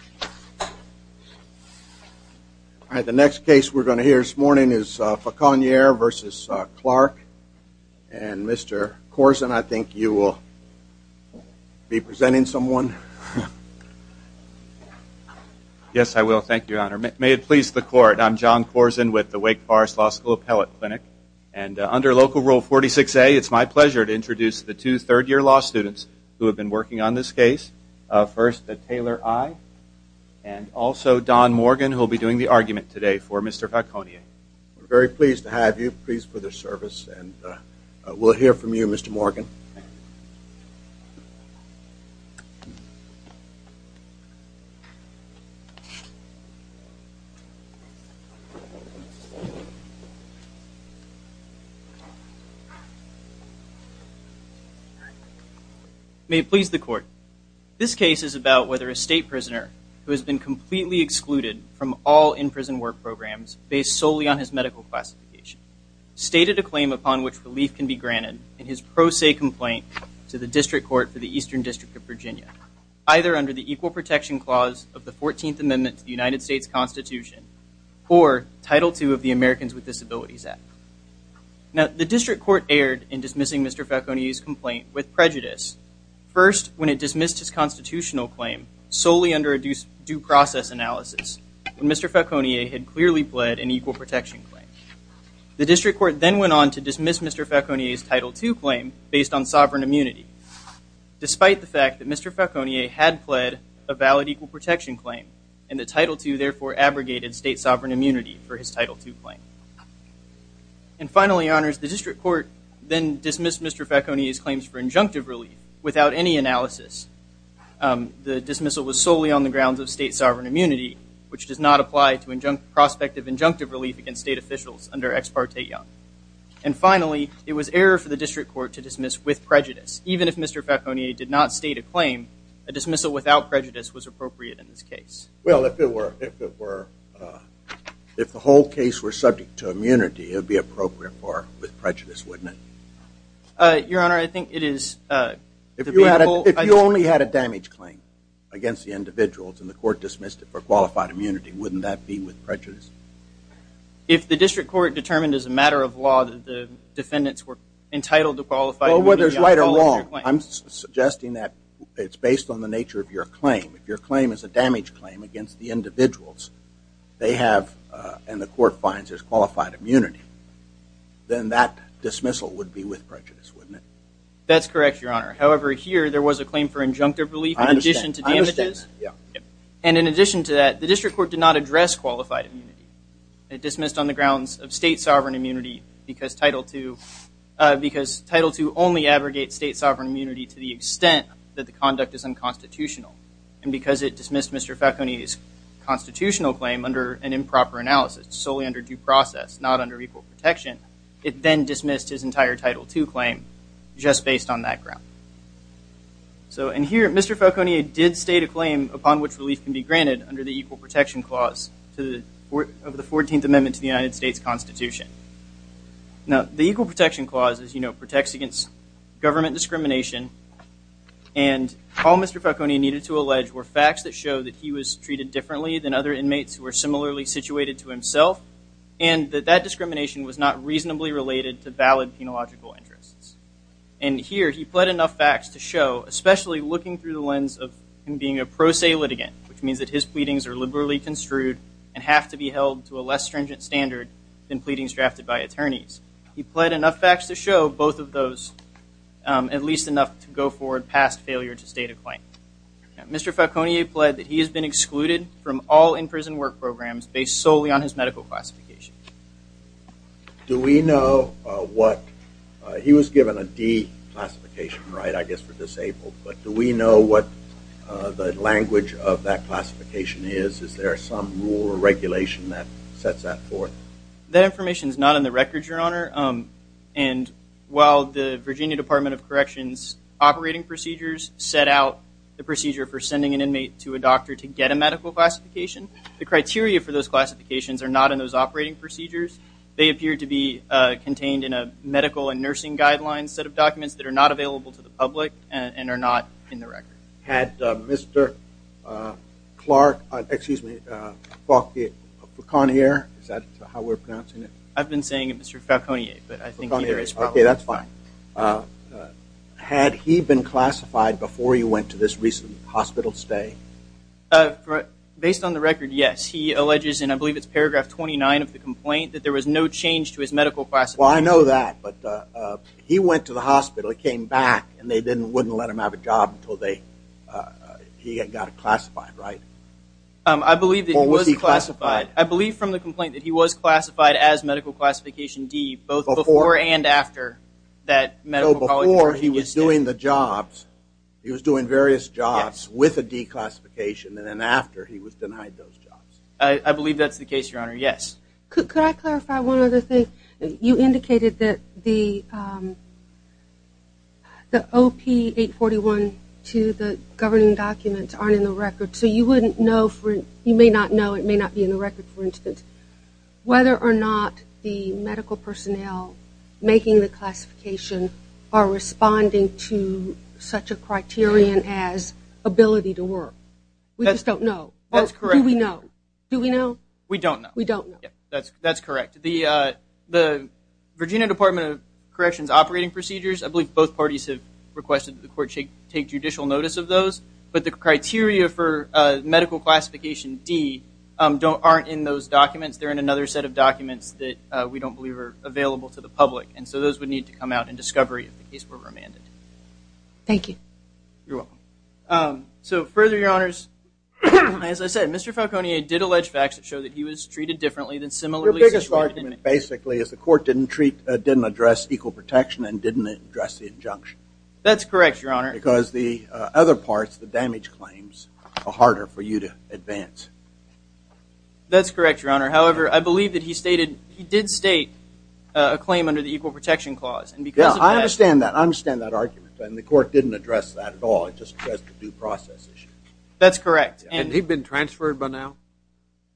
All right, the next case we're going to hear this morning is Fauconier v. Clarke, and Mr. Corzine, I think you will be presenting someone. Yes, I will. Thank you, Your Honor. May it please the Court, I'm John Corzine with the Wake Forest Law School Appellate Clinic, and under Local Rule 46A, it's my pleasure to introduce the two third-year law students who have been working on this case. First, Taylor I, and also Don Morgan, who will be doing the argument today for Mr. Fauconier. We're very pleased to have you, pleased for the service, and we'll hear from you, Mr. Morgan. Thank you. May it please the Court, this case is about whether a state prisoner who has been completely excluded from all in-prison work programs based solely on his medical classification stated a claim upon which relief can be granted in his pro se complaint to the District Court for the Eastern District of Virginia, either under the Equal Protection Clause of the 14th Amendment to the United States Constitution or Title II of the Americans with Disabilities Act. Now, the District Court erred in dismissing Mr. Fauconier's complaint with prejudice, first when it dismissed his constitutional claim solely under a due process analysis, when Mr. Fauconier had clearly pled an equal protection claim. The District Court then went on to dismiss Mr. Fauconier's Title II claim based on sovereign immunity, despite the fact that Mr. Fauconier had pled a valid equal protection claim, and the Title II therefore abrogated state sovereign immunity for his Title II claim. And finally, Your Honors, the District Court then dismissed Mr. Fauconier's claims for injunctive relief without any analysis. The dismissal was solely on the grounds of state sovereign immunity, which does not apply to prospective injunctive relief against state officials under Ex parte Young. And finally, it was error for the District Court to dismiss with prejudice. Even if Mr. Fauconier did not state a claim, a dismissal without prejudice was appropriate in this case. Well, if it were. If the whole case were subject to immunity, it would be appropriate with prejudice, wouldn't it? Your Honor, I think it is. If you only had a damage claim against the individuals and the court dismissed it for qualified immunity, wouldn't that be with prejudice? If the District Court determined as a matter of law that the defendants were entitled to qualified immunity, I apologize for your claim. against the individuals they have and the court finds as qualified immunity, then that dismissal would be with prejudice, wouldn't it? That's correct, Your Honor. However, here there was a claim for injunctive relief in addition to damages. And in addition to that, the District Court did not address qualified immunity. It dismissed on the grounds of state sovereign immunity because Title II only abrogates state sovereign immunity to the extent that the conduct is unconstitutional. And because it dismissed Mr. Fauconier's constitutional claim under an improper analysis, solely under due process, not under equal protection, it then dismissed his entire Title II claim just based on that ground. So in here, Mr. Fauconier did state a claim upon which relief can be granted under the Equal Protection Clause of the 14th Amendment to the United States Constitution. Now, the Equal Protection Clause, as you know, protects against government discrimination. And all Mr. Fauconier needed to allege were facts that show that he was treated differently than other inmates who were similarly situated to himself and that that discrimination was not reasonably related to valid penological interests. And here he pled enough facts to show, especially looking through the lens of him being a pro se litigant, which means that his pleadings are liberally construed and have to be held to a less stringent standard than pleadings drafted by attorneys. He pled enough facts to show both of those, at least enough to go forward past failure to state a claim. Mr. Fauconier pled that he has been excluded from all in-prison work programs based solely on his medical classification. Do we know what – he was given a D classification, right, I guess for disabled. But do we know what the language of that classification is? Is there some rule or regulation that sets that forth? That information is not in the record, Your Honor. And while the Virginia Department of Corrections operating procedures set out the procedure for sending an inmate to a doctor to get a medical classification, the criteria for those classifications are not in those operating procedures. They appear to be contained in a medical and nursing guidelines set of documents that are not available to the public and are not in the record. Had Mr. Clark – excuse me, Fauconier, is that how we're pronouncing it? I've been saying it, Mr. Fauconier, but I think either is fine. Okay, that's fine. Had he been classified before you went to this recent hospital stay? Based on the record, yes. He alleges, and I believe it's paragraph 29 of the complaint, that there was no change to his medical classification. Well, I know that. But he went to the hospital, he came back, and they wouldn't let him have a job until he got classified, right? I believe that he was classified. Or was he classified? I believe from the complaint that he was classified as medical classification D both before and after that medical college – So before he was doing the jobs, he was doing various jobs with a D classification, and then after he was denied those jobs. I believe that's the case, Your Honor, yes. Could I clarify one other thing? You indicated that the OP841 to the governing documents aren't in the record. So you wouldn't know – you may not know, it may not be in the record, for instance, whether or not the medical personnel making the classification are responding to such a criterion as ability to work. We just don't know. That's correct. Do we know? Do we know? We don't know. We don't know. That's correct. The Virginia Department of Corrections operating procedures, I believe both parties have requested that the court take judicial notice of those, but the criteria for medical classification D aren't in those documents. They're in another set of documents that we don't believe are available to the public, and so those would need to come out in discovery if the case were remanded. Thank you. You're welcome. So further, Your Honors, as I said, Mr. Falconier did allege facts that show that he was treated differently than similarly situated – Your biggest argument, basically, is the court didn't address equal protection and didn't address the injunction. That's correct, Your Honor. Because the other parts, the damage claims, are harder for you to advance. That's correct, Your Honor. However, I believe that he did state a claim under the equal protection clause, and because of that – Yeah, I understand that. I understand that argument, and the court didn't address that at all. It just addressed the due process issue. That's correct. And he'd been transferred by now?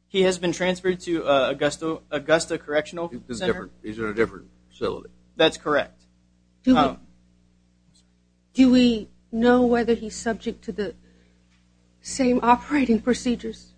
He has been transferred to Augusta Correctional Center. He's in a different facility. That's correct. Do we know whether he's subject to the same operating procedures?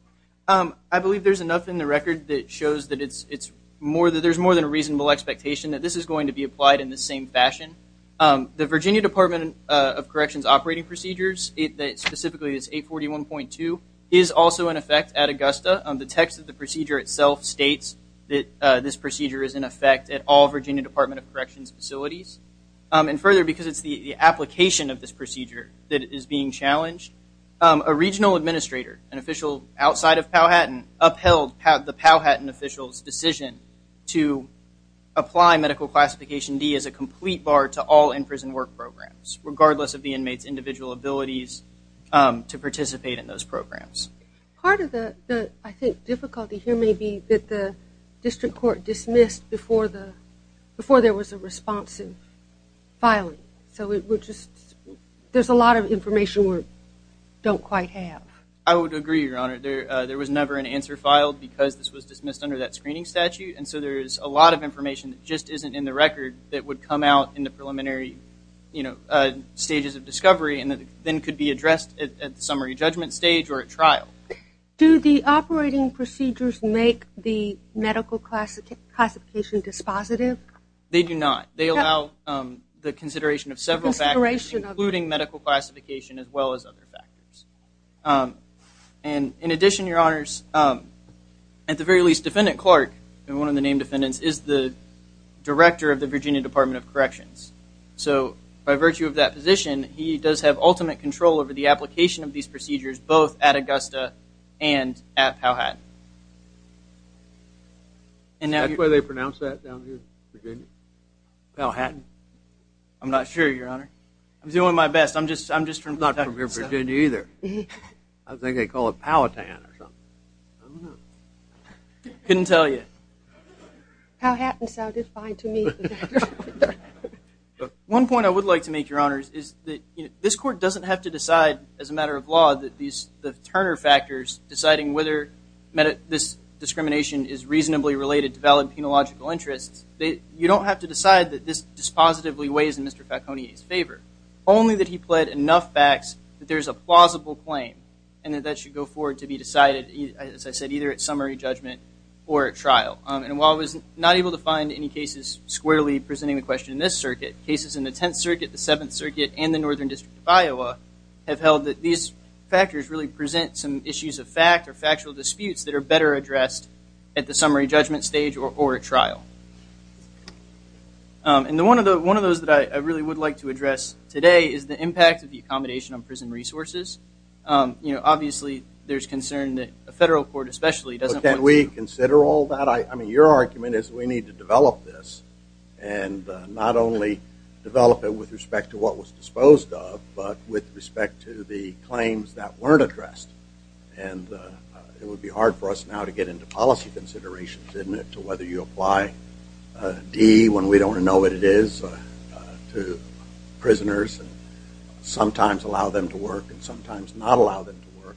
I believe there's enough in the record that shows that there's more than a reasonable expectation that this is going to be applied in the same fashion. The Virginia Department of Corrections operating procedures, specifically this 841.2, is also in effect at Augusta. The text of the procedure itself states that this procedure is in effect at all Virginia Department of Corrections facilities. And further, because it's the application of this procedure that is being challenged, a regional administrator, an official outside of Powhatan, upheld the Powhatan official's decision to apply medical classification D as a complete bar to all in-prison work programs, regardless of the inmate's individual abilities to participate in those programs. Part of the, I think, difficulty here may be that the district court dismissed before there was a responsive filing. So there's a lot of information we don't quite have. I would agree, Your Honor. There was never an answer filed because this was dismissed under that screening statute. And so there's a lot of information that just isn't in the record that would come out in the preliminary stages of discovery and then could be addressed at the summary judgment stage or at trial. Do the operating procedures make the medical classification dispositive? They do not. They allow the consideration of several factors, including medical classification as well as other factors. And in addition, Your Honors, at the very least, Defendant Clark, one of the named defendants, is the director of the Virginia Department of Corrections. So by virtue of that position, he does have ultimate control over the application of these procedures, both at Augusta and at Powhatan. Is that why they pronounce that down here, Virginia? Powhatan? I'm not sure, Your Honor. I'm doing my best. I'm just from Virginia. I'm not from Virginia either. I think they call it Powhatan or something. I don't know. Couldn't tell you. Powhatan sounded fine to me. One point I would like to make, Your Honors, is that this court doesn't have to decide, as a matter of law, that the Turner factors deciding whether this discrimination is reasonably related to valid penological interests, you don't have to decide that this dispositively weighs in Mr. Falcone's favor, only that he pled enough backs that there is a plausible claim and that that should go forward to be decided, as I said, either at summary judgment or at trial. And while I was not able to find any cases squarely presenting the question in this circuit, cases in the Tenth Circuit, the Seventh Circuit, and the Northern District of Iowa have held that these factors really present some issues of fact or factual disputes that are better addressed at the summary judgment stage or at trial. And one of those that I really would like to address today is the impact of the accommodation on prison resources. You know, obviously there's concern that a federal court especially doesn't want to Can we consider all that? I mean, your argument is we need to develop this and not only develop it with respect to what was disposed of, but with respect to the claims that weren't addressed. And it would be hard for us now to get into policy considerations, isn't it, to whether you apply D when we don't know what it is to prisoners and sometimes allow them to work and sometimes not allow them to work.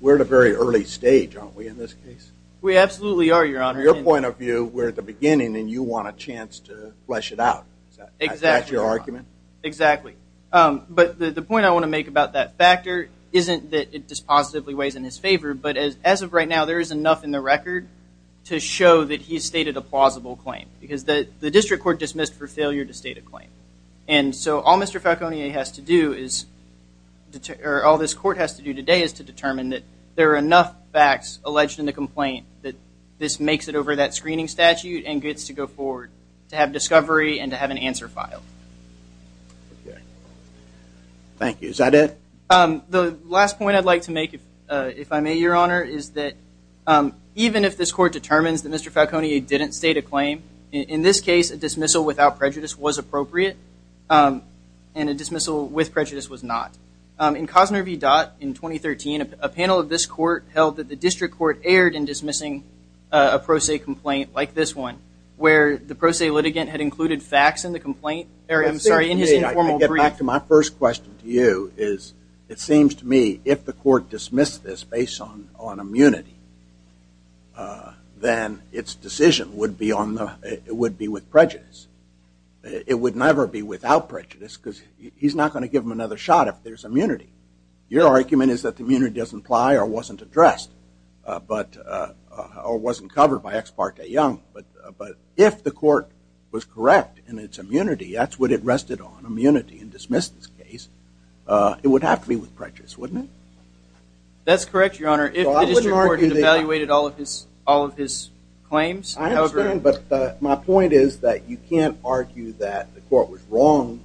We're at a very early stage, aren't we, in this case? We absolutely are, Your Honor. From your point of view, we're at the beginning and you want a chance to flesh it out. Exactly. Is that your argument? Exactly. But the point I want to make about that factor isn't that it dispositively weighs in his favor, but as of right now there is enough in the record to show that he's stated a plausible claim because the district court dismissed for failure to state a claim. And so all Mr. Falcone has to do, or all this court has to do today, is to determine that there are enough facts alleged in the complaint that this makes it over that screening statute and gets to go forward to have discovery and to have an answer filed. Okay. Thank you. Is that it? The last point I'd like to make, if I may, Your Honor, is that even if this court determines that Mr. Falcone didn't state a claim, in this case a dismissal without prejudice was appropriate and a dismissal with prejudice was not. In Cosner v. Dott in 2013, a panel of this court held that the district court erred in dismissing a pro se complaint like this one where the pro se litigant had included facts in the complaint. I get back to my first question to you is it seems to me if the court dismissed this based on immunity, then its decision would be with prejudice. It would never be without prejudice because he's not going to give them another shot if there's immunity. Your argument is that the immunity doesn't apply or wasn't addressed or wasn't covered by Ex parte Young. But if the court was correct in its immunity, that's what it rested on, immunity, and dismissed this case, it would have to be with prejudice, wouldn't it? That's correct, Your Honor. If the district court evaluated all of his claims. I understand, but my point is that you can't argue that the court was wrong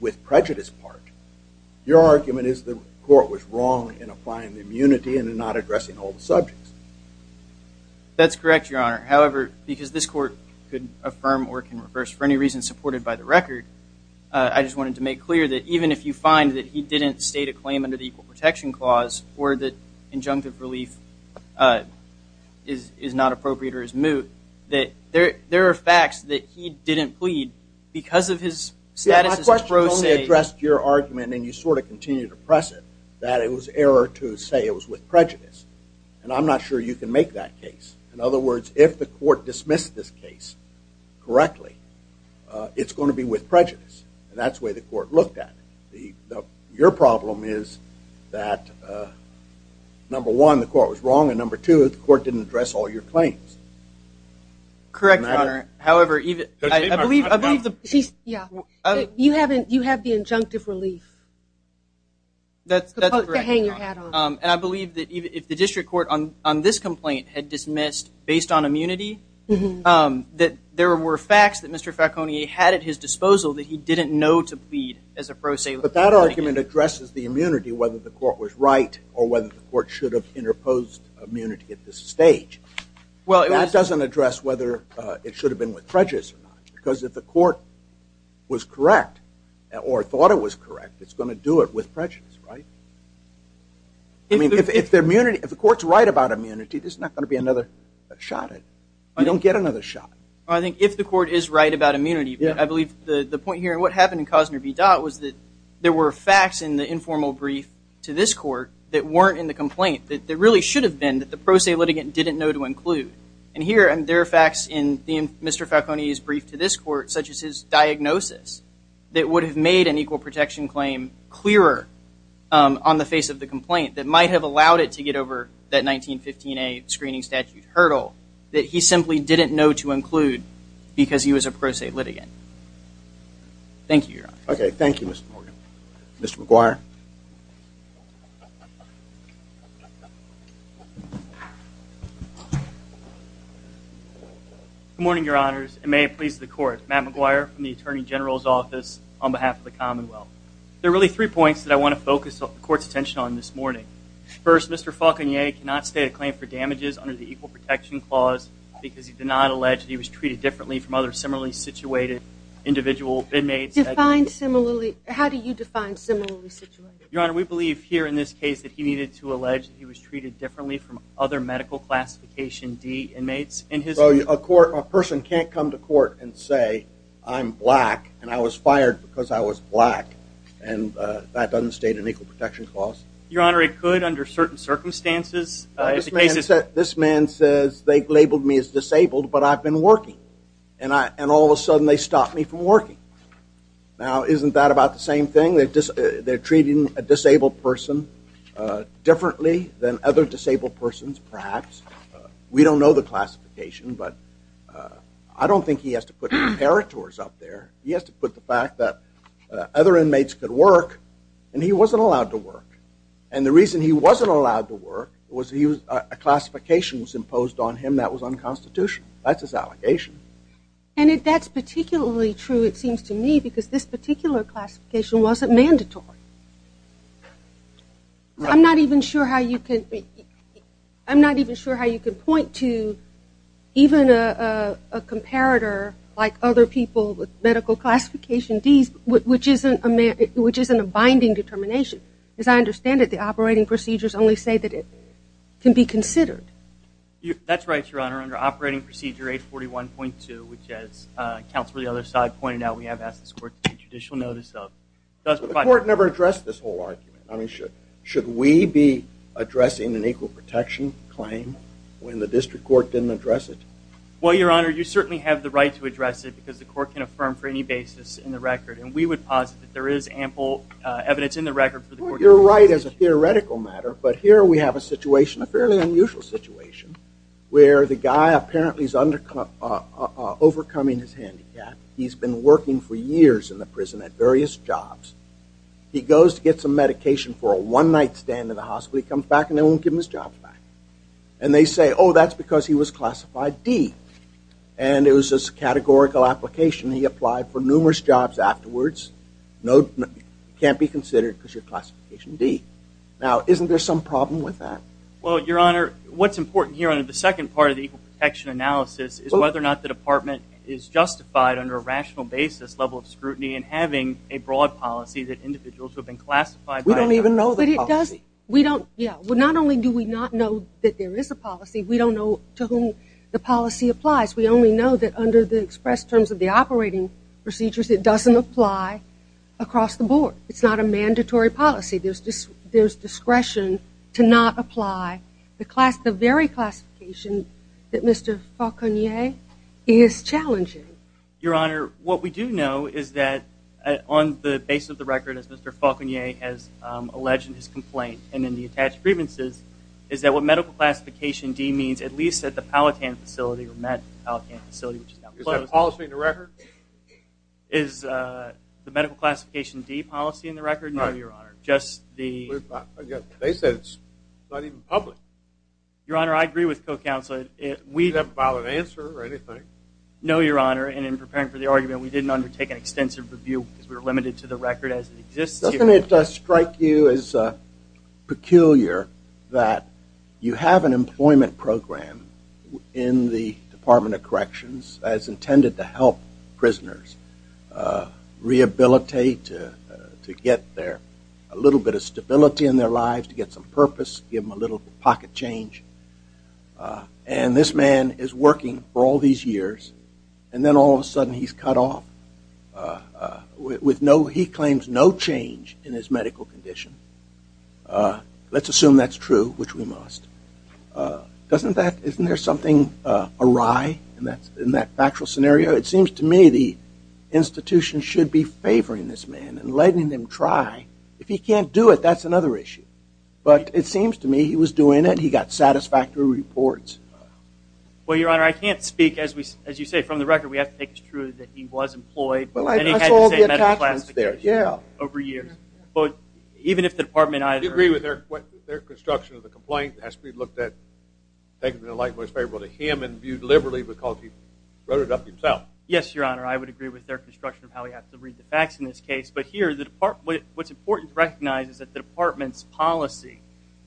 with prejudice part. Your argument is the court was wrong in applying the immunity and not addressing all the subjects. That's correct, Your Honor. However, because this court could affirm or can reverse for any reason supported by the record, I just wanted to make clear that even if you find that he didn't state a claim under the Equal Protection Clause or that injunctive relief is not appropriate or is moot, that there are facts that he didn't plead because of his status as a pro se. My question only addressed your argument and you sort of continue to press it that it was error to say it was with prejudice. And I'm not sure you can make that case. In other words, if the court dismissed this case correctly, it's going to be with prejudice. And that's the way the court looked at it. Your problem is that, number one, the court was wrong, and number two, the court didn't address all your claims. Correct, Your Honor. However, I believe the… You have the injunctive relief. That's correct. And I believe that if the district court on this complaint had dismissed, based on immunity, that there were facts that Mr. Falcone had at his disposal that he didn't know to plead as a pro se. But that argument addresses the immunity, whether the court was right or whether the court should have interposed immunity at this stage. That doesn't address whether it should have been with prejudice or not, or thought it was correct. It's going to do it with prejudice, right? I mean, if the court's right about immunity, there's not going to be another shot at it. You don't get another shot. I think if the court is right about immunity, I believe the point here, and what happened in Cosner v. Dott was that there were facts in the informal brief to this court that weren't in the complaint, that really should have been, that the pro se litigant didn't know to include. And here, there are facts in Mr. Falcone's brief to this court, such as his diagnosis, that would have made an equal protection claim clearer on the face of the complaint, that might have allowed it to get over that 1915A screening statute hurdle, that he simply didn't know to include because he was a pro se litigant. Thank you, Your Honor. Okay, thank you, Mr. Morgan. Mr. McGuire. Good morning, Your Honors, and may it please the court. Matt McGuire from the Attorney General's Office on behalf of the Commonwealth. There are really three points that I want to focus the court's attention on this morning. First, Mr. Falcone cannot state a claim for damages under the equal protection clause because he did not allege that he was treated differently from other similarly situated individual inmates. How do you define similarly situated? Your Honor, we believe here in this case that he needed to allege that he was treated differently from other medical classification D inmates. So a person can't come to court and say I'm black and I was fired because I was black and that doesn't state an equal protection clause? Your Honor, it could under certain circumstances. This man says they've labeled me as disabled but I've been working and all of a sudden they stopped me from working. Now isn't that about the same thing? They're treating a disabled person differently than other disabled persons perhaps. We don't know the classification but I don't think he has to put comparators up there. He has to put the fact that other inmates could work and he wasn't allowed to work. And the reason he wasn't allowed to work was a classification was imposed on him that was unconstitutional. That's his allegation. And if that's particularly true it seems to me because this particular classification wasn't mandatory. I'm not even sure how you can point to even a comparator like other people with medical classification Ds which isn't a binding determination. As I understand it, the operating procedures only say that it can be considered. That's right, Your Honor. Under Operating Procedure 841.2, which as Counselor the other side pointed out, we have asked this court to take judicial notice of, does provide... But the court never addressed this whole argument. I mean, should we be addressing an equal protection claim when the district court didn't address it? Well, Your Honor, you certainly have the right to address it because the court can affirm for any basis in the record. You're right as a theoretical matter. But here we have a situation, a fairly unusual situation, where the guy apparently is overcoming his handicap. He's been working for years in the prison at various jobs. He goes to get some medication for a one-night stand in the hospital. He comes back and they won't give him his job back. And they say, oh, that's because he was classified D. And it was just a categorical application. He applied for numerous jobs afterwards. It can't be considered because you're classification D. Now, isn't there some problem with that? Well, Your Honor, what's important here under the second part of the equal protection analysis is whether or not the department is justified under a rational basis level of scrutiny in having a broad policy that individuals who have been classified by... We don't even know the policy. We don't, yeah. Well, not only do we not know that there is a policy, we don't know to whom the policy applies. We only know that under the express terms of the operating procedures, it doesn't apply across the board. It's not a mandatory policy. There's discretion to not apply the very classification that Mr. Faulconier is challenging. Your Honor, what we do know is that on the basis of the record, as Mr. Faulconier has alleged in his complaint and in the attached grievances, is that what medical classification D means, at least at the Palatant facility, the Palatant facility which is now closed... Is that policy in the record? Is the medical classification D policy in the record? No, Your Honor. Just the... They said it's not even public. Your Honor, I agree with co-counsel. Is that a valid answer or anything? No, Your Honor, and in preparing for the argument, we didn't undertake an extensive review because we were limited to the record as it exists here. Doesn't it strike you as peculiar that you have an employment program in the Department of Corrections as intended to help prisoners rehabilitate, to get a little bit of stability in their lives, to get some purpose, give them a little pocket change, and this man is working for all these years, and then all of a sudden he's cut off? With no... He claims no change in his medical condition. Let's assume that's true, which we must. Doesn't that... Isn't there something awry in that factual scenario? It seems to me the institution should be favoring this man and letting him try. If he can't do it, that's another issue. But it seems to me he was doing it. He got satisfactory reports. Well, Your Honor, I can't speak, as you say, from the record. We have to make it true that he was employed. And he had the same medical classifications over years. But even if the department either... Do you agree with their construction of the complaint? It has to be looked at, taken in a light that was favorable to him and viewed liberally because he wrote it up himself. Yes, Your Honor. I would agree with their construction of how we have to read the facts in this case. But here, what's important to recognize is that the department's policy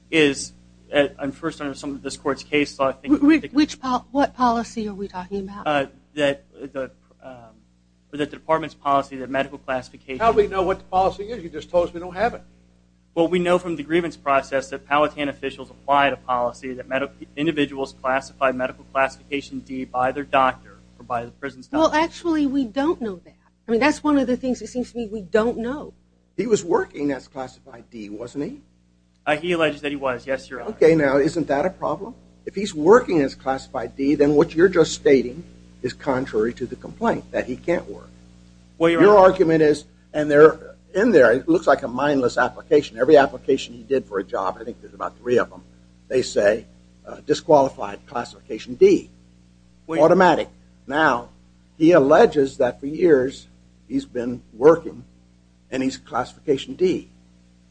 is, and first under some of this court's cases, I think... What policy are we talking about? That the department's policy, the medical classification... How do we know what the policy is? You just told us we don't have it. Well, we know from the grievance process that Palatine officials applied a policy that individuals classified medical classification D by their doctor or by the prison staff. Well, actually, we don't know that. I mean, that's one of the things that seems to me we don't know. He was working as classified D, wasn't he? He alleges that he was, yes, Your Honor. Okay, now, isn't that a problem? If he's working as classified D, then what you're just stating is contrary to the complaint, that he can't work. Well, Your Honor... Your argument is, and in there, it looks like a mindless application. Every application he did for a job, I think there's about three of them, they say disqualified classification D, automatic. Now, he alleges that for years he's been working and he's classification D.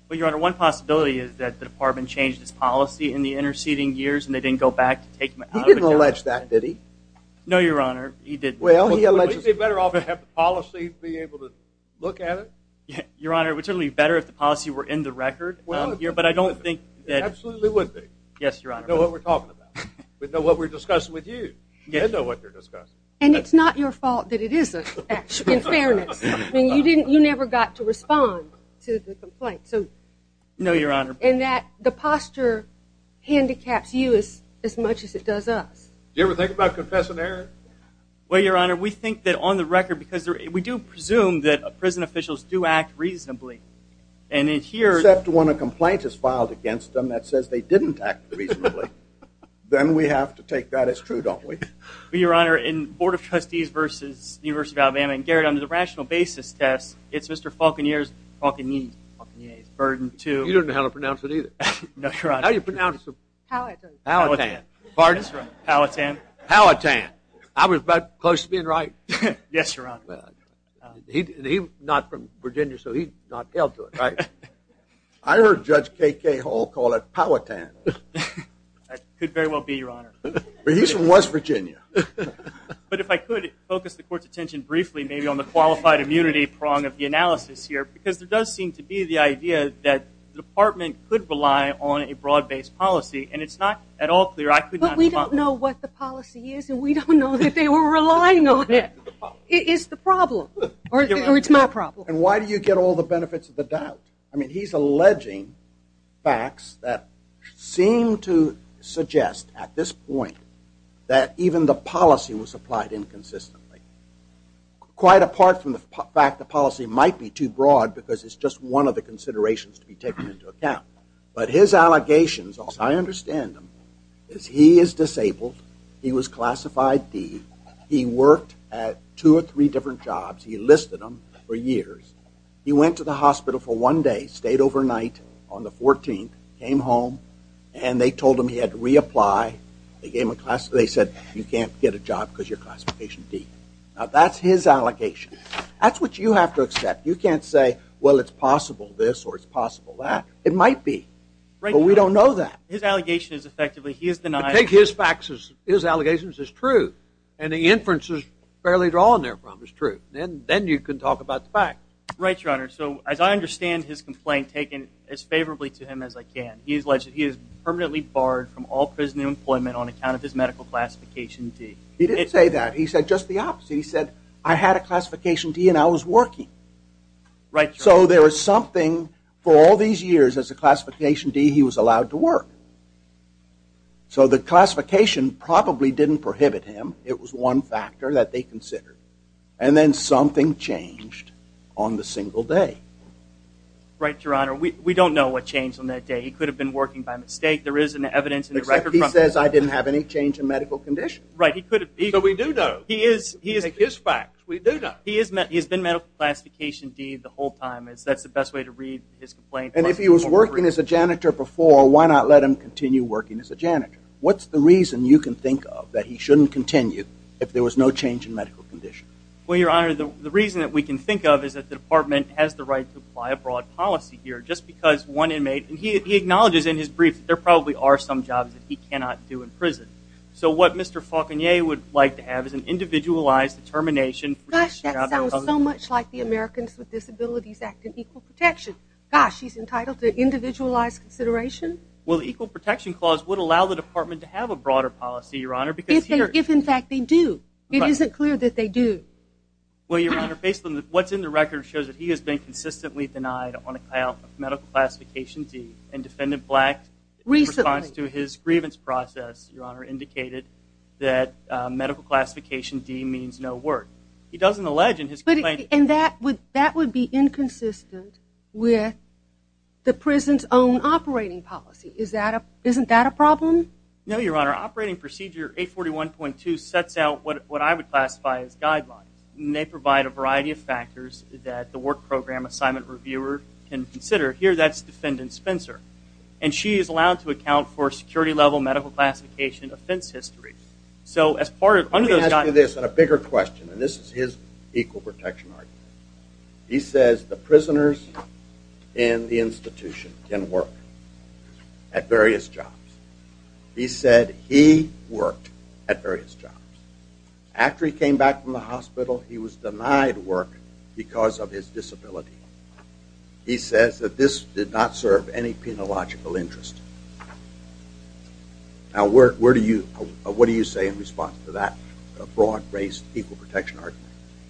Well, Your Honor, one possibility is that the department changed its policy in the interceding years and they didn't go back to take him out of the job. He didn't allege that, did he? No, Your Honor, he didn't. Well, he alleges... Wouldn't it be better off to have the policy to be able to look at it? Your Honor, it would certainly be better if the policy were in the record, but I don't think that... It absolutely would be. Yes, Your Honor. We know what we're talking about. We know what we're discussing with you. They know what they're discussing. And it's not your fault that it isn't, in fairness. I mean, you never got to respond to the complaint. No, Your Honor. And that the posture handicaps you as much as it does us. Do you ever think about confessing error? Well, Your Honor, we think that on the record, because we do presume that prison officials do act reasonably. Except when a complaint is filed against them that says they didn't act reasonably. Then we have to take that as true, don't we? Well, Your Honor, in Board of Trustees versus University of Alabama, and, Garrett, under the rational basis test, it's Mr. Falconier's burden to... You don't know how to pronounce it either. No, Your Honor. How do you pronounce it? Palatant. Palatant. Pardon? Palatant. Palatant. I was about close to being right. Yes, Your Honor. He's not from Virginia, so he's not held to it, right? I heard Judge K.K. Hall call it Palatant. Could very well be, Your Honor. But he's from West Virginia. But if I could focus the Court's attention briefly, maybe on the qualified immunity prong of the analysis here, because there does seem to be the idea that the department could rely on a broad-based policy, and it's not at all clear. But we don't know what the policy is, and we don't know that they were relying on it. It is the problem, or it's my problem. And why do you get all the benefits of the doubt? I mean, he's alleging facts that seem to suggest at this point that even the policy was applied inconsistently. Quite apart from the fact the policy might be too broad because it's just one of the considerations to be taken into account. But his allegations, as I understand them, is he is disabled. He was classified D. He worked at two or three different jobs. He enlisted them for years. He went to the hospital for one day, stayed overnight on the 14th, came home, and they told him he had to reapply. They said, you can't get a job because you're Classification D. Now, that's his allegation. That's what you have to accept. You can't say, well, it's possible this or it's possible that. It might be, but we don't know that. His allegations, effectively, he has denied. I take his facts as his allegations as true, and the inferences fairly drawn therefrom is true. Then you can talk about the fact. Right, Your Honor. So as I understand his complaint, taken as favorably to him as I can, he alleged he is permanently barred from all prison employment on account of his medical Classification D. He didn't say that. He said just the opposite. He said, I had a Classification D and I was working. So there was something for all these years as a Classification D he was allowed to work. So the classification probably didn't prohibit him. It was one factor that they considered. And then something changed on the single day. Right, Your Honor. We don't know what changed on that day. He could have been working by mistake. There is an evidence in the record. Except he says I didn't have any change in medical condition. Right, he could have. So we do know. He is. We take his facts. We do know. He has been medical Classification D the whole time. That's the best way to read his complaint. And if he was working as a janitor before, why not let him continue working as a janitor? What's the reason you can think of that he shouldn't continue if there was no change in medical condition? Well, Your Honor, the reason that we can think of is that the department has the right to apply a broad policy here. Just because one inmate, and he acknowledges in his brief that there probably are some jobs that he cannot do in prison. So what Mr. Faulconier would like to have is an individualized determination. Gosh, that sounds so much like the Americans with Disabilities Act and Equal Protection. Gosh, he's entitled to individualized consideration? Well, the Equal Protection Clause would allow the department to have a broader policy, Your Honor. If in fact they do. It isn't clear that they do. Well, Your Honor, based on what's in the record it shows that he has been consistently denied on a medical classification D. And Defendant Black, in response to his grievance process, Your Honor, indicated that medical classification D means no work. He doesn't allege in his complaint. And that would be inconsistent with the prison's own operating policy. Isn't that a problem? No, Your Honor. Operating Procedure 841.2 sets out what I would classify as guidelines. And they provide a variety of factors that the work program assignment reviewer can consider. Here, that's Defendant Spencer. And she is allowed to account for security-level medical classification offense history. Let me ask you this, and a bigger question. And this is his equal protection argument. He says the prisoners in the institution can work at various jobs. He said he worked at various jobs. After he came back from the hospital, he was denied work because of his disability. He says that this did not serve any penological interest. Now, what do you say in response to that broad-braced equal protection argument?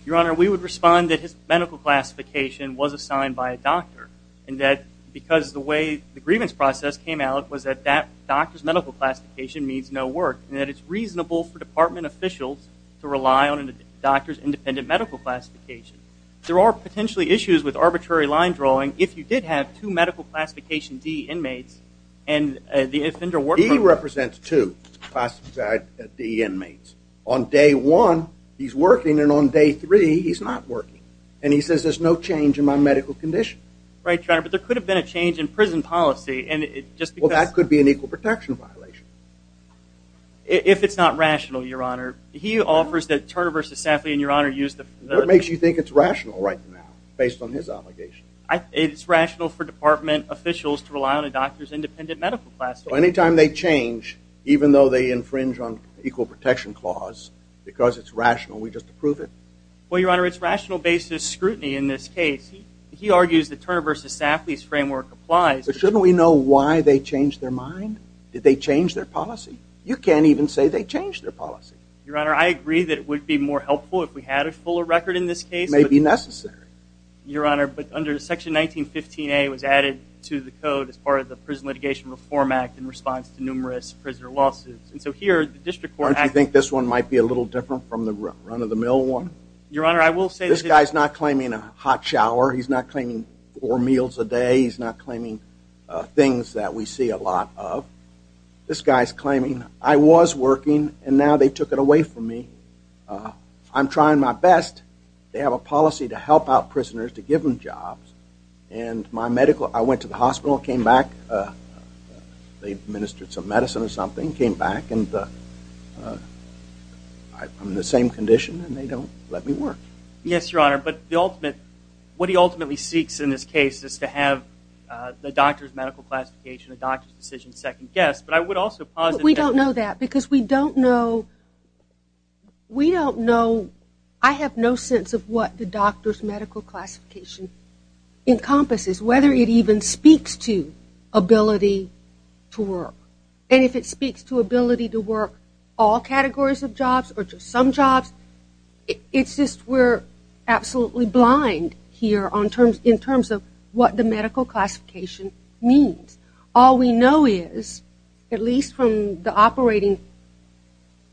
Your Honor, we would respond that his medical classification was assigned by a doctor, and that because the way the grievance process came out was that that doctor's medical classification means no work, and that it's reasonable for department officials to rely on a doctor's independent medical classification. There are potentially issues with arbitrary line drawing. If you did have two medical classification D inmates, and the offender worked for them. He represents two classified D inmates. On day one, he's working, and on day three, he's not working. And he says there's no change in my medical condition. Right, Your Honor, but there could have been a change in prison policy. Well, that could be an equal protection violation. If it's not rational, Your Honor. He offers that Turner v. Safley and Your Honor use the What makes you think it's rational right now, based on his obligation? It's rational for department officials to rely on a doctor's independent medical classification. So any time they change, even though they infringe on equal protection clause, because it's rational, we just approve it? Well, Your Honor, it's rational-based scrutiny in this case. He argues that Turner v. Safley's framework applies. But shouldn't we know why they changed their mind? Did they change their policy? You can't even say they changed their policy. Your Honor, I agree that it would be more helpful if we had a fuller record in this case. It may be necessary. Your Honor, but under section 1915A, it was added to the code as part of the Prison Litigation Reform Act in response to numerous prisoner lawsuits. And so here, the district court act Don't you think this one might be a little different from the run-of-the-mill one? Your Honor, I will say that This guy's not claiming a hot shower. He's not claiming four meals a day. He's not claiming things that we see a lot of. This guy's claiming, I was working, and now they took it away from me. I'm trying my best. They have a policy to help out prisoners, to give them jobs. And my medical, I went to the hospital, came back. They administered some medicine or something, came back, and I'm in the same condition, and they don't let me work. Yes, Your Honor, but the ultimate, what he ultimately seeks in this case is to have the doctor's medical classification, the doctor's decision second-guessed. But I would also posit that We don't know that because we don't know. We don't know. I have no sense of what the doctor's medical classification encompasses, whether it even speaks to ability to work. And if it speaks to ability to work all categories of jobs or just some jobs, it's just we're absolutely blind here in terms of what the medical classification means. All we know is, at least from the operating,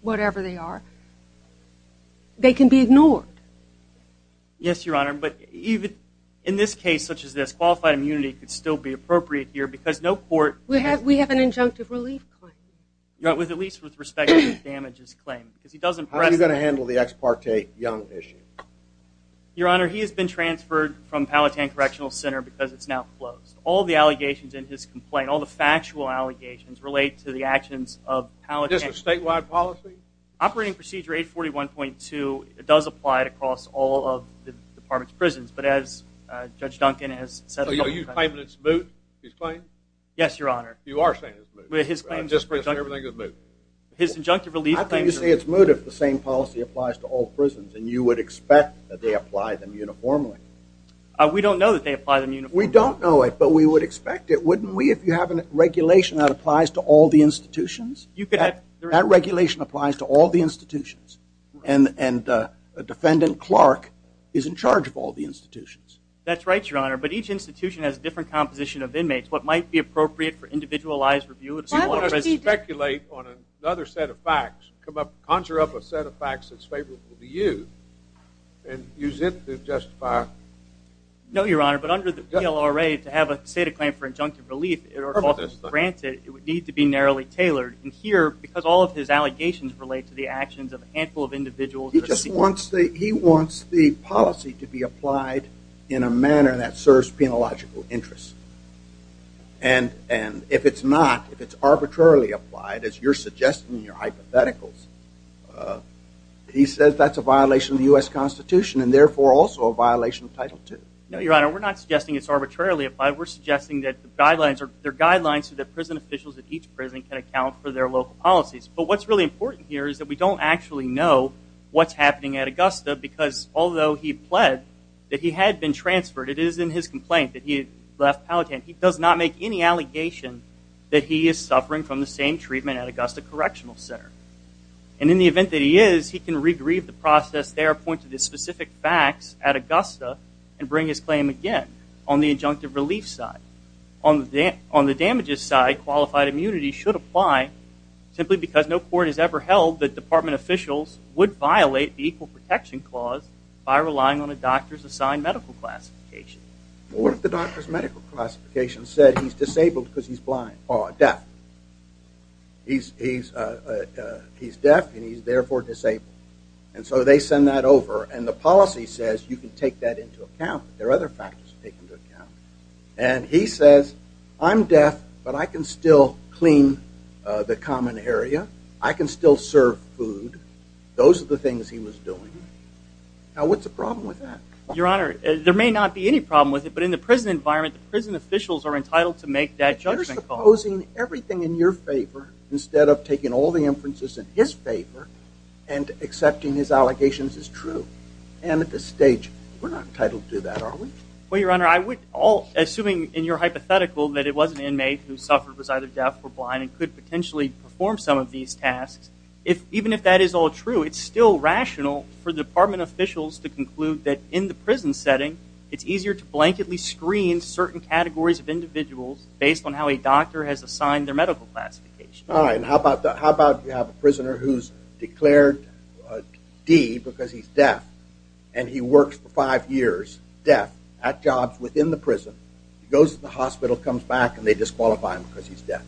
whatever they are, they can be ignored. Yes, Your Honor, but even in this case, such as this, qualified immunity could still be appropriate here because no court We have an injunctive relief claim. At least with respect to the damages claim. How are you going to handle the ex parte Young issue? Your Honor, he has been transferred from Palatine Correctional Center because it's now closed. All the allegations in his complaint, all the factual allegations relate to the actions of Palatine. Is this a statewide policy? Operating Procedure 841.2, it does apply across all of the department's prisons, but as Judge Duncan has said So you're claiming it's moot, his claim? Yes, Your Honor. You are saying it's moot. His claim is injunctive. I think you say it's moot if the same policy applies to all prisons and you would expect that they apply them uniformly. We don't know that they apply them uniformly. We don't know it, but we would expect it, wouldn't we, if you have a regulation that applies to all the institutions? That regulation applies to all the institutions. And defendant Clark is in charge of all the institutions. That's right, Your Honor, but each institution has a different composition of inmates. What might be appropriate for individualized review You want to speculate on another set of facts, conjure up a set of facts that's favorable to you and use it to justify No, Your Honor, but under the PLRA, to have a state of claim for injunctive relief granted, it would need to be narrowly tailored. And here, because all of his allegations relate to the actions of a handful of individuals He just wants the policy to be applied in a manner that serves penological interests. And if it's not, if it's arbitrarily applied, as you're suggesting in your hypotheticals he says that's a violation of the U.S. Constitution and therefore also a violation of Title II. No, Your Honor, we're not suggesting it's arbitrarily applied. We're suggesting that there are guidelines so that prison officials at each prison can account for their local policies. But what's really important here is that we don't actually know what's happening at Augusta because although he pled that he had been transferred it is in his complaint that he left Powhatan. He does not make any allegation that he is suffering from the same treatment at Augusta Correctional Center. And in the event that he is, he can regrieve the process there, point to the specific facts at Augusta, and bring his claim again on the injunctive relief side. On the damages side, qualified immunity should apply simply because no court has ever held that department officials would violate the Equal Protection Clause by relying on a doctor's assigned medical classification. What if the doctor's medical classification said he's disabled because he's blind? Or deaf. He's deaf and he's therefore disabled. And so they send that over and the policy says you can take that into account. There are other factors to take into account. And he says, I'm deaf, but I can still clean the common area. I can still serve food. Those are the things he was doing. Now, what's the problem with that? Your Honor, there may not be any problem with it, but in the prison environment, the prison officials are entitled to make that judgment call. You're supposing everything in your favor, instead of taking all the inferences in his favor and accepting his allegations as true. And at this stage, we're not entitled to do that, are we? Well, Your Honor, assuming in your hypothetical that it was an inmate who suffered was either deaf or blind and could potentially perform some of these tasks, even if that is all true, it's still rational for the department officials to conclude that in the prison setting, it's easier to blanketly screen certain categories of individuals based on how a doctor has assigned their medical classification. All right, and how about you have a prisoner who's declared D because he's deaf and he works for five years deaf at jobs within the prison, goes to the hospital, comes back, and they disqualify him because he's deaf.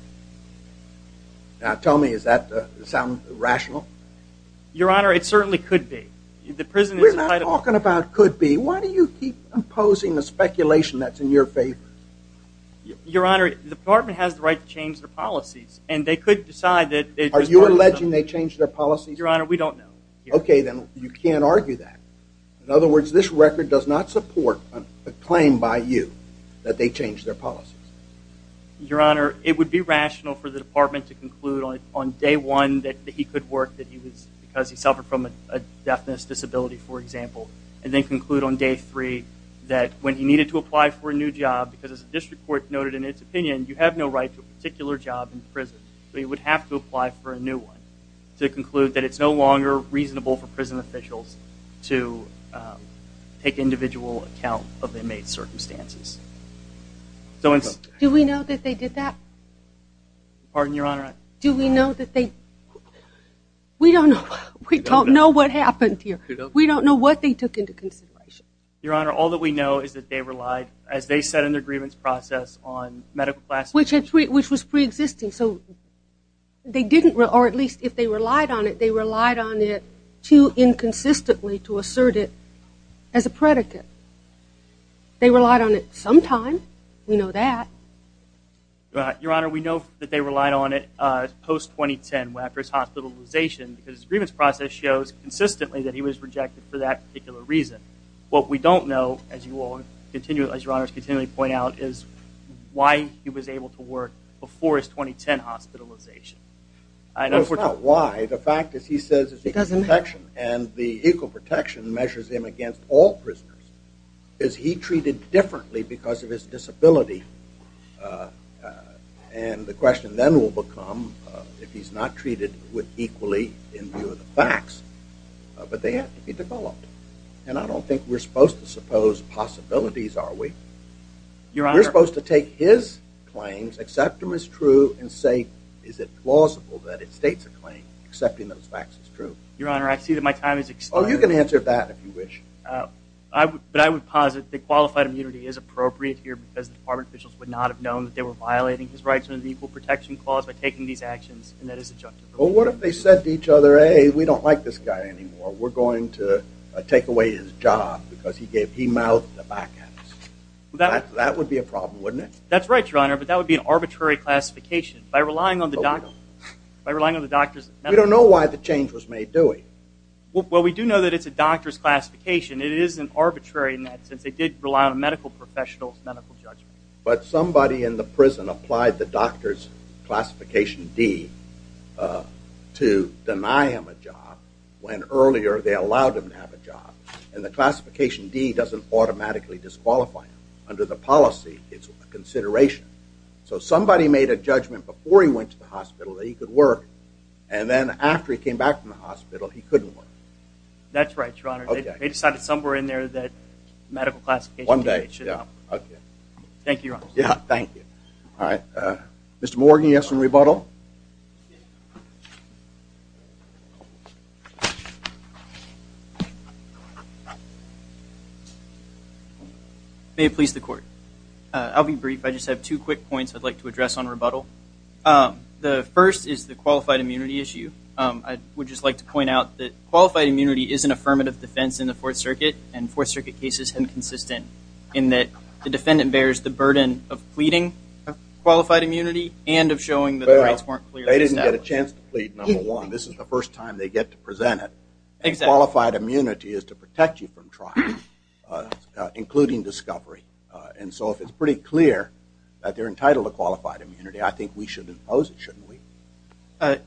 Now, tell me, does that sound rational? Your Honor, it certainly could be. We're not talking about could be. Why do you keep imposing the speculation that's in your favor? Your Honor, the department has the right to change their policies, and they could decide that... Are you alleging they changed their policies? Your Honor, we don't know. Okay, then you can't argue that. In other words, this record does not support a claim by you that they changed their policies. Your Honor, it would be rational for the department to conclude on day one that he could work because he suffered from a deafness disability, for example, and then conclude on day three that when he needed to apply for a new job, because as the district court noted in its opinion, you have no right to a particular job in prison, so he would have to apply for a new one to conclude that it's no longer reasonable for prison officials to take individual account of inmate circumstances. Do we know that they did that? Pardon, Your Honor? Do we know that they... We don't know. We don't know what happened here. We don't know what they took into consideration. Your Honor, all that we know is that they relied, as they said in their grievance process on medical classes... Which was preexisting, so they didn't, or at least if they relied on it, they relied on it too inconsistently to assert it as a predicate. They relied on it sometime. We know that. Your Honor, we know that they relied on it post-2010 after his hospitalization because his grievance process shows consistently that he was rejected for that particular reason. What we don't know, as Your Honor has continually pointed out, is why he was able to work before his 2010 hospitalization. It's not why. The fact is he says it's equal protection, and the equal protection measures him against all prisoners. Is he treated differently because of his disability? And the question then will become if he's not treated equally in view of the facts. But they have to be developed. And I don't think we're supposed to suppose possibilities, are we? Your Honor... We're supposed to take his claims, accept them as true, and say, is it plausible that it states a claim, accepting those facts as true? Your Honor, I see that my time has expired. Oh, you can answer that if you wish. But I would posit that qualified immunity is appropriate here because the Department officials would not have known that they were violating his rights under the Equal Protection Clause by taking these actions, and that is adjunctive. Well, what if they said to each other, hey, we don't like this guy anymore. We're going to take away his job because he mouthed the back answer. That would be a problem, wouldn't it? That's right, Your Honor, but that would be an arbitrary classification. By relying on the doctors... Well, we do know that it's a doctor's classification. It isn't arbitrary in that sense. They did rely on a medical professional's medical judgment. But somebody in the prison applied the doctor's classification D to deny him a job when earlier they allowed him to have a job, and the classification D doesn't automatically disqualify him. Under the policy, it's a consideration. So somebody made a judgment before he went to the hospital that he could work, and then after he came back from the hospital, he couldn't work. That's right, Your Honor. They decided somewhere in there that medical classification D should help. One day, yeah. Thank you, Your Honor. Yeah, thank you. All right. Mr. Morgan, you have some rebuttal? May it please the Court. I'll be brief. I just have two quick points I'd like to address on rebuttal. The first is the qualified immunity issue. I would just like to point out that qualified immunity is an affirmative defense in the Fourth Circuit, and Fourth Circuit cases have been consistent in that the defendant bears the burden of pleading for qualified immunity and of showing that the rights weren't clearly established. They didn't get a chance to plead, number one. This is the first time they get to present it. Qualified immunity is to protect you from trial, including discovery. And so if it's pretty clear that they're entitled to qualified immunity, I think we should impose it, shouldn't we?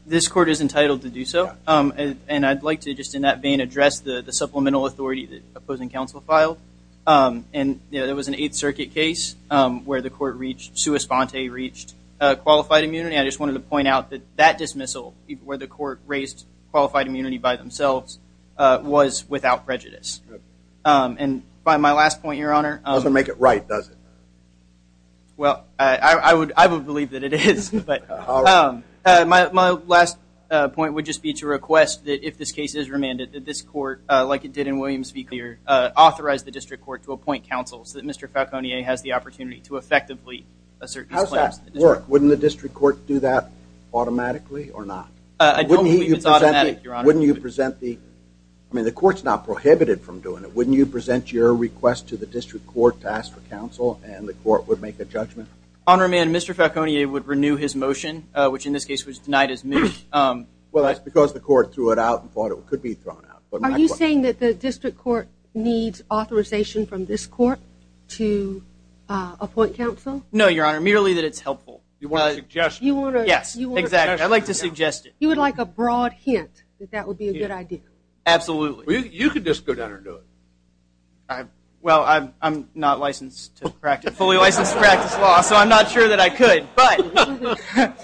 This Court is entitled to do so, and I'd like to just in that vein address the supplemental authority that opposing counsel filed. And there was an Eighth Circuit case where the court reached, sua sponte, reached qualified immunity. I just wanted to point out that that dismissal, where the court raised qualified immunity by themselves, was without prejudice. And my last point, Your Honor. It doesn't make it right, does it? Well, I would believe that it is. But my last point would just be to request that if this case is remanded, that this court, like it did in Williams v. Clear, authorize the district court to appoint counsel so that Mr. Falconier has the opportunity to effectively assert his claims. How does that work? Wouldn't the district court do that automatically or not? I don't believe it's automatic, Your Honor. I mean, the court's not prohibited from doing it. Wouldn't you present your request to the district court to ask for counsel, and the court would make a judgment? On remand, Mr. Falconier would renew his motion, which in this case was denied as moved. Well, that's because the court threw it out and thought it could be thrown out. Are you saying that the district court needs authorization from this court to appoint counsel? No, Your Honor, merely that it's helpful. You want a suggestion. Yes, exactly. I'd like to suggest it. You would like a broad hint that that would be a good idea? Absolutely. You could just go down there and do it. Well, I'm not licensed to practice, fully licensed to practice law, so I'm not sure that I could, but.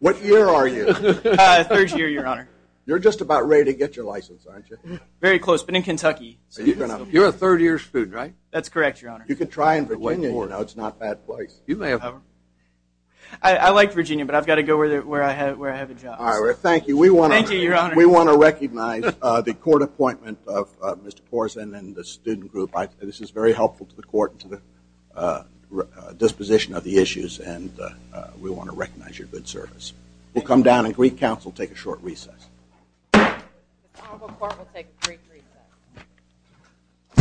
What year are you? Third year, Your Honor. You're just about ready to get your license, aren't you? Very close, but in Kentucky. You're a third year student, right? That's correct, Your Honor. You could try in Virginia, you know, it's not a bad place. I like Virginia, but I've got to go where I have a job. All right, well, thank you. Thank you, Your Honor. We want to recognize the court appointment of Mr. Korsen and the student group. This is very helpful to the court and to the disposition of the issues, and we want to recognize your good service. We'll come down, and Greek counsel will take a short recess. The Honorable Court will take a brief recess.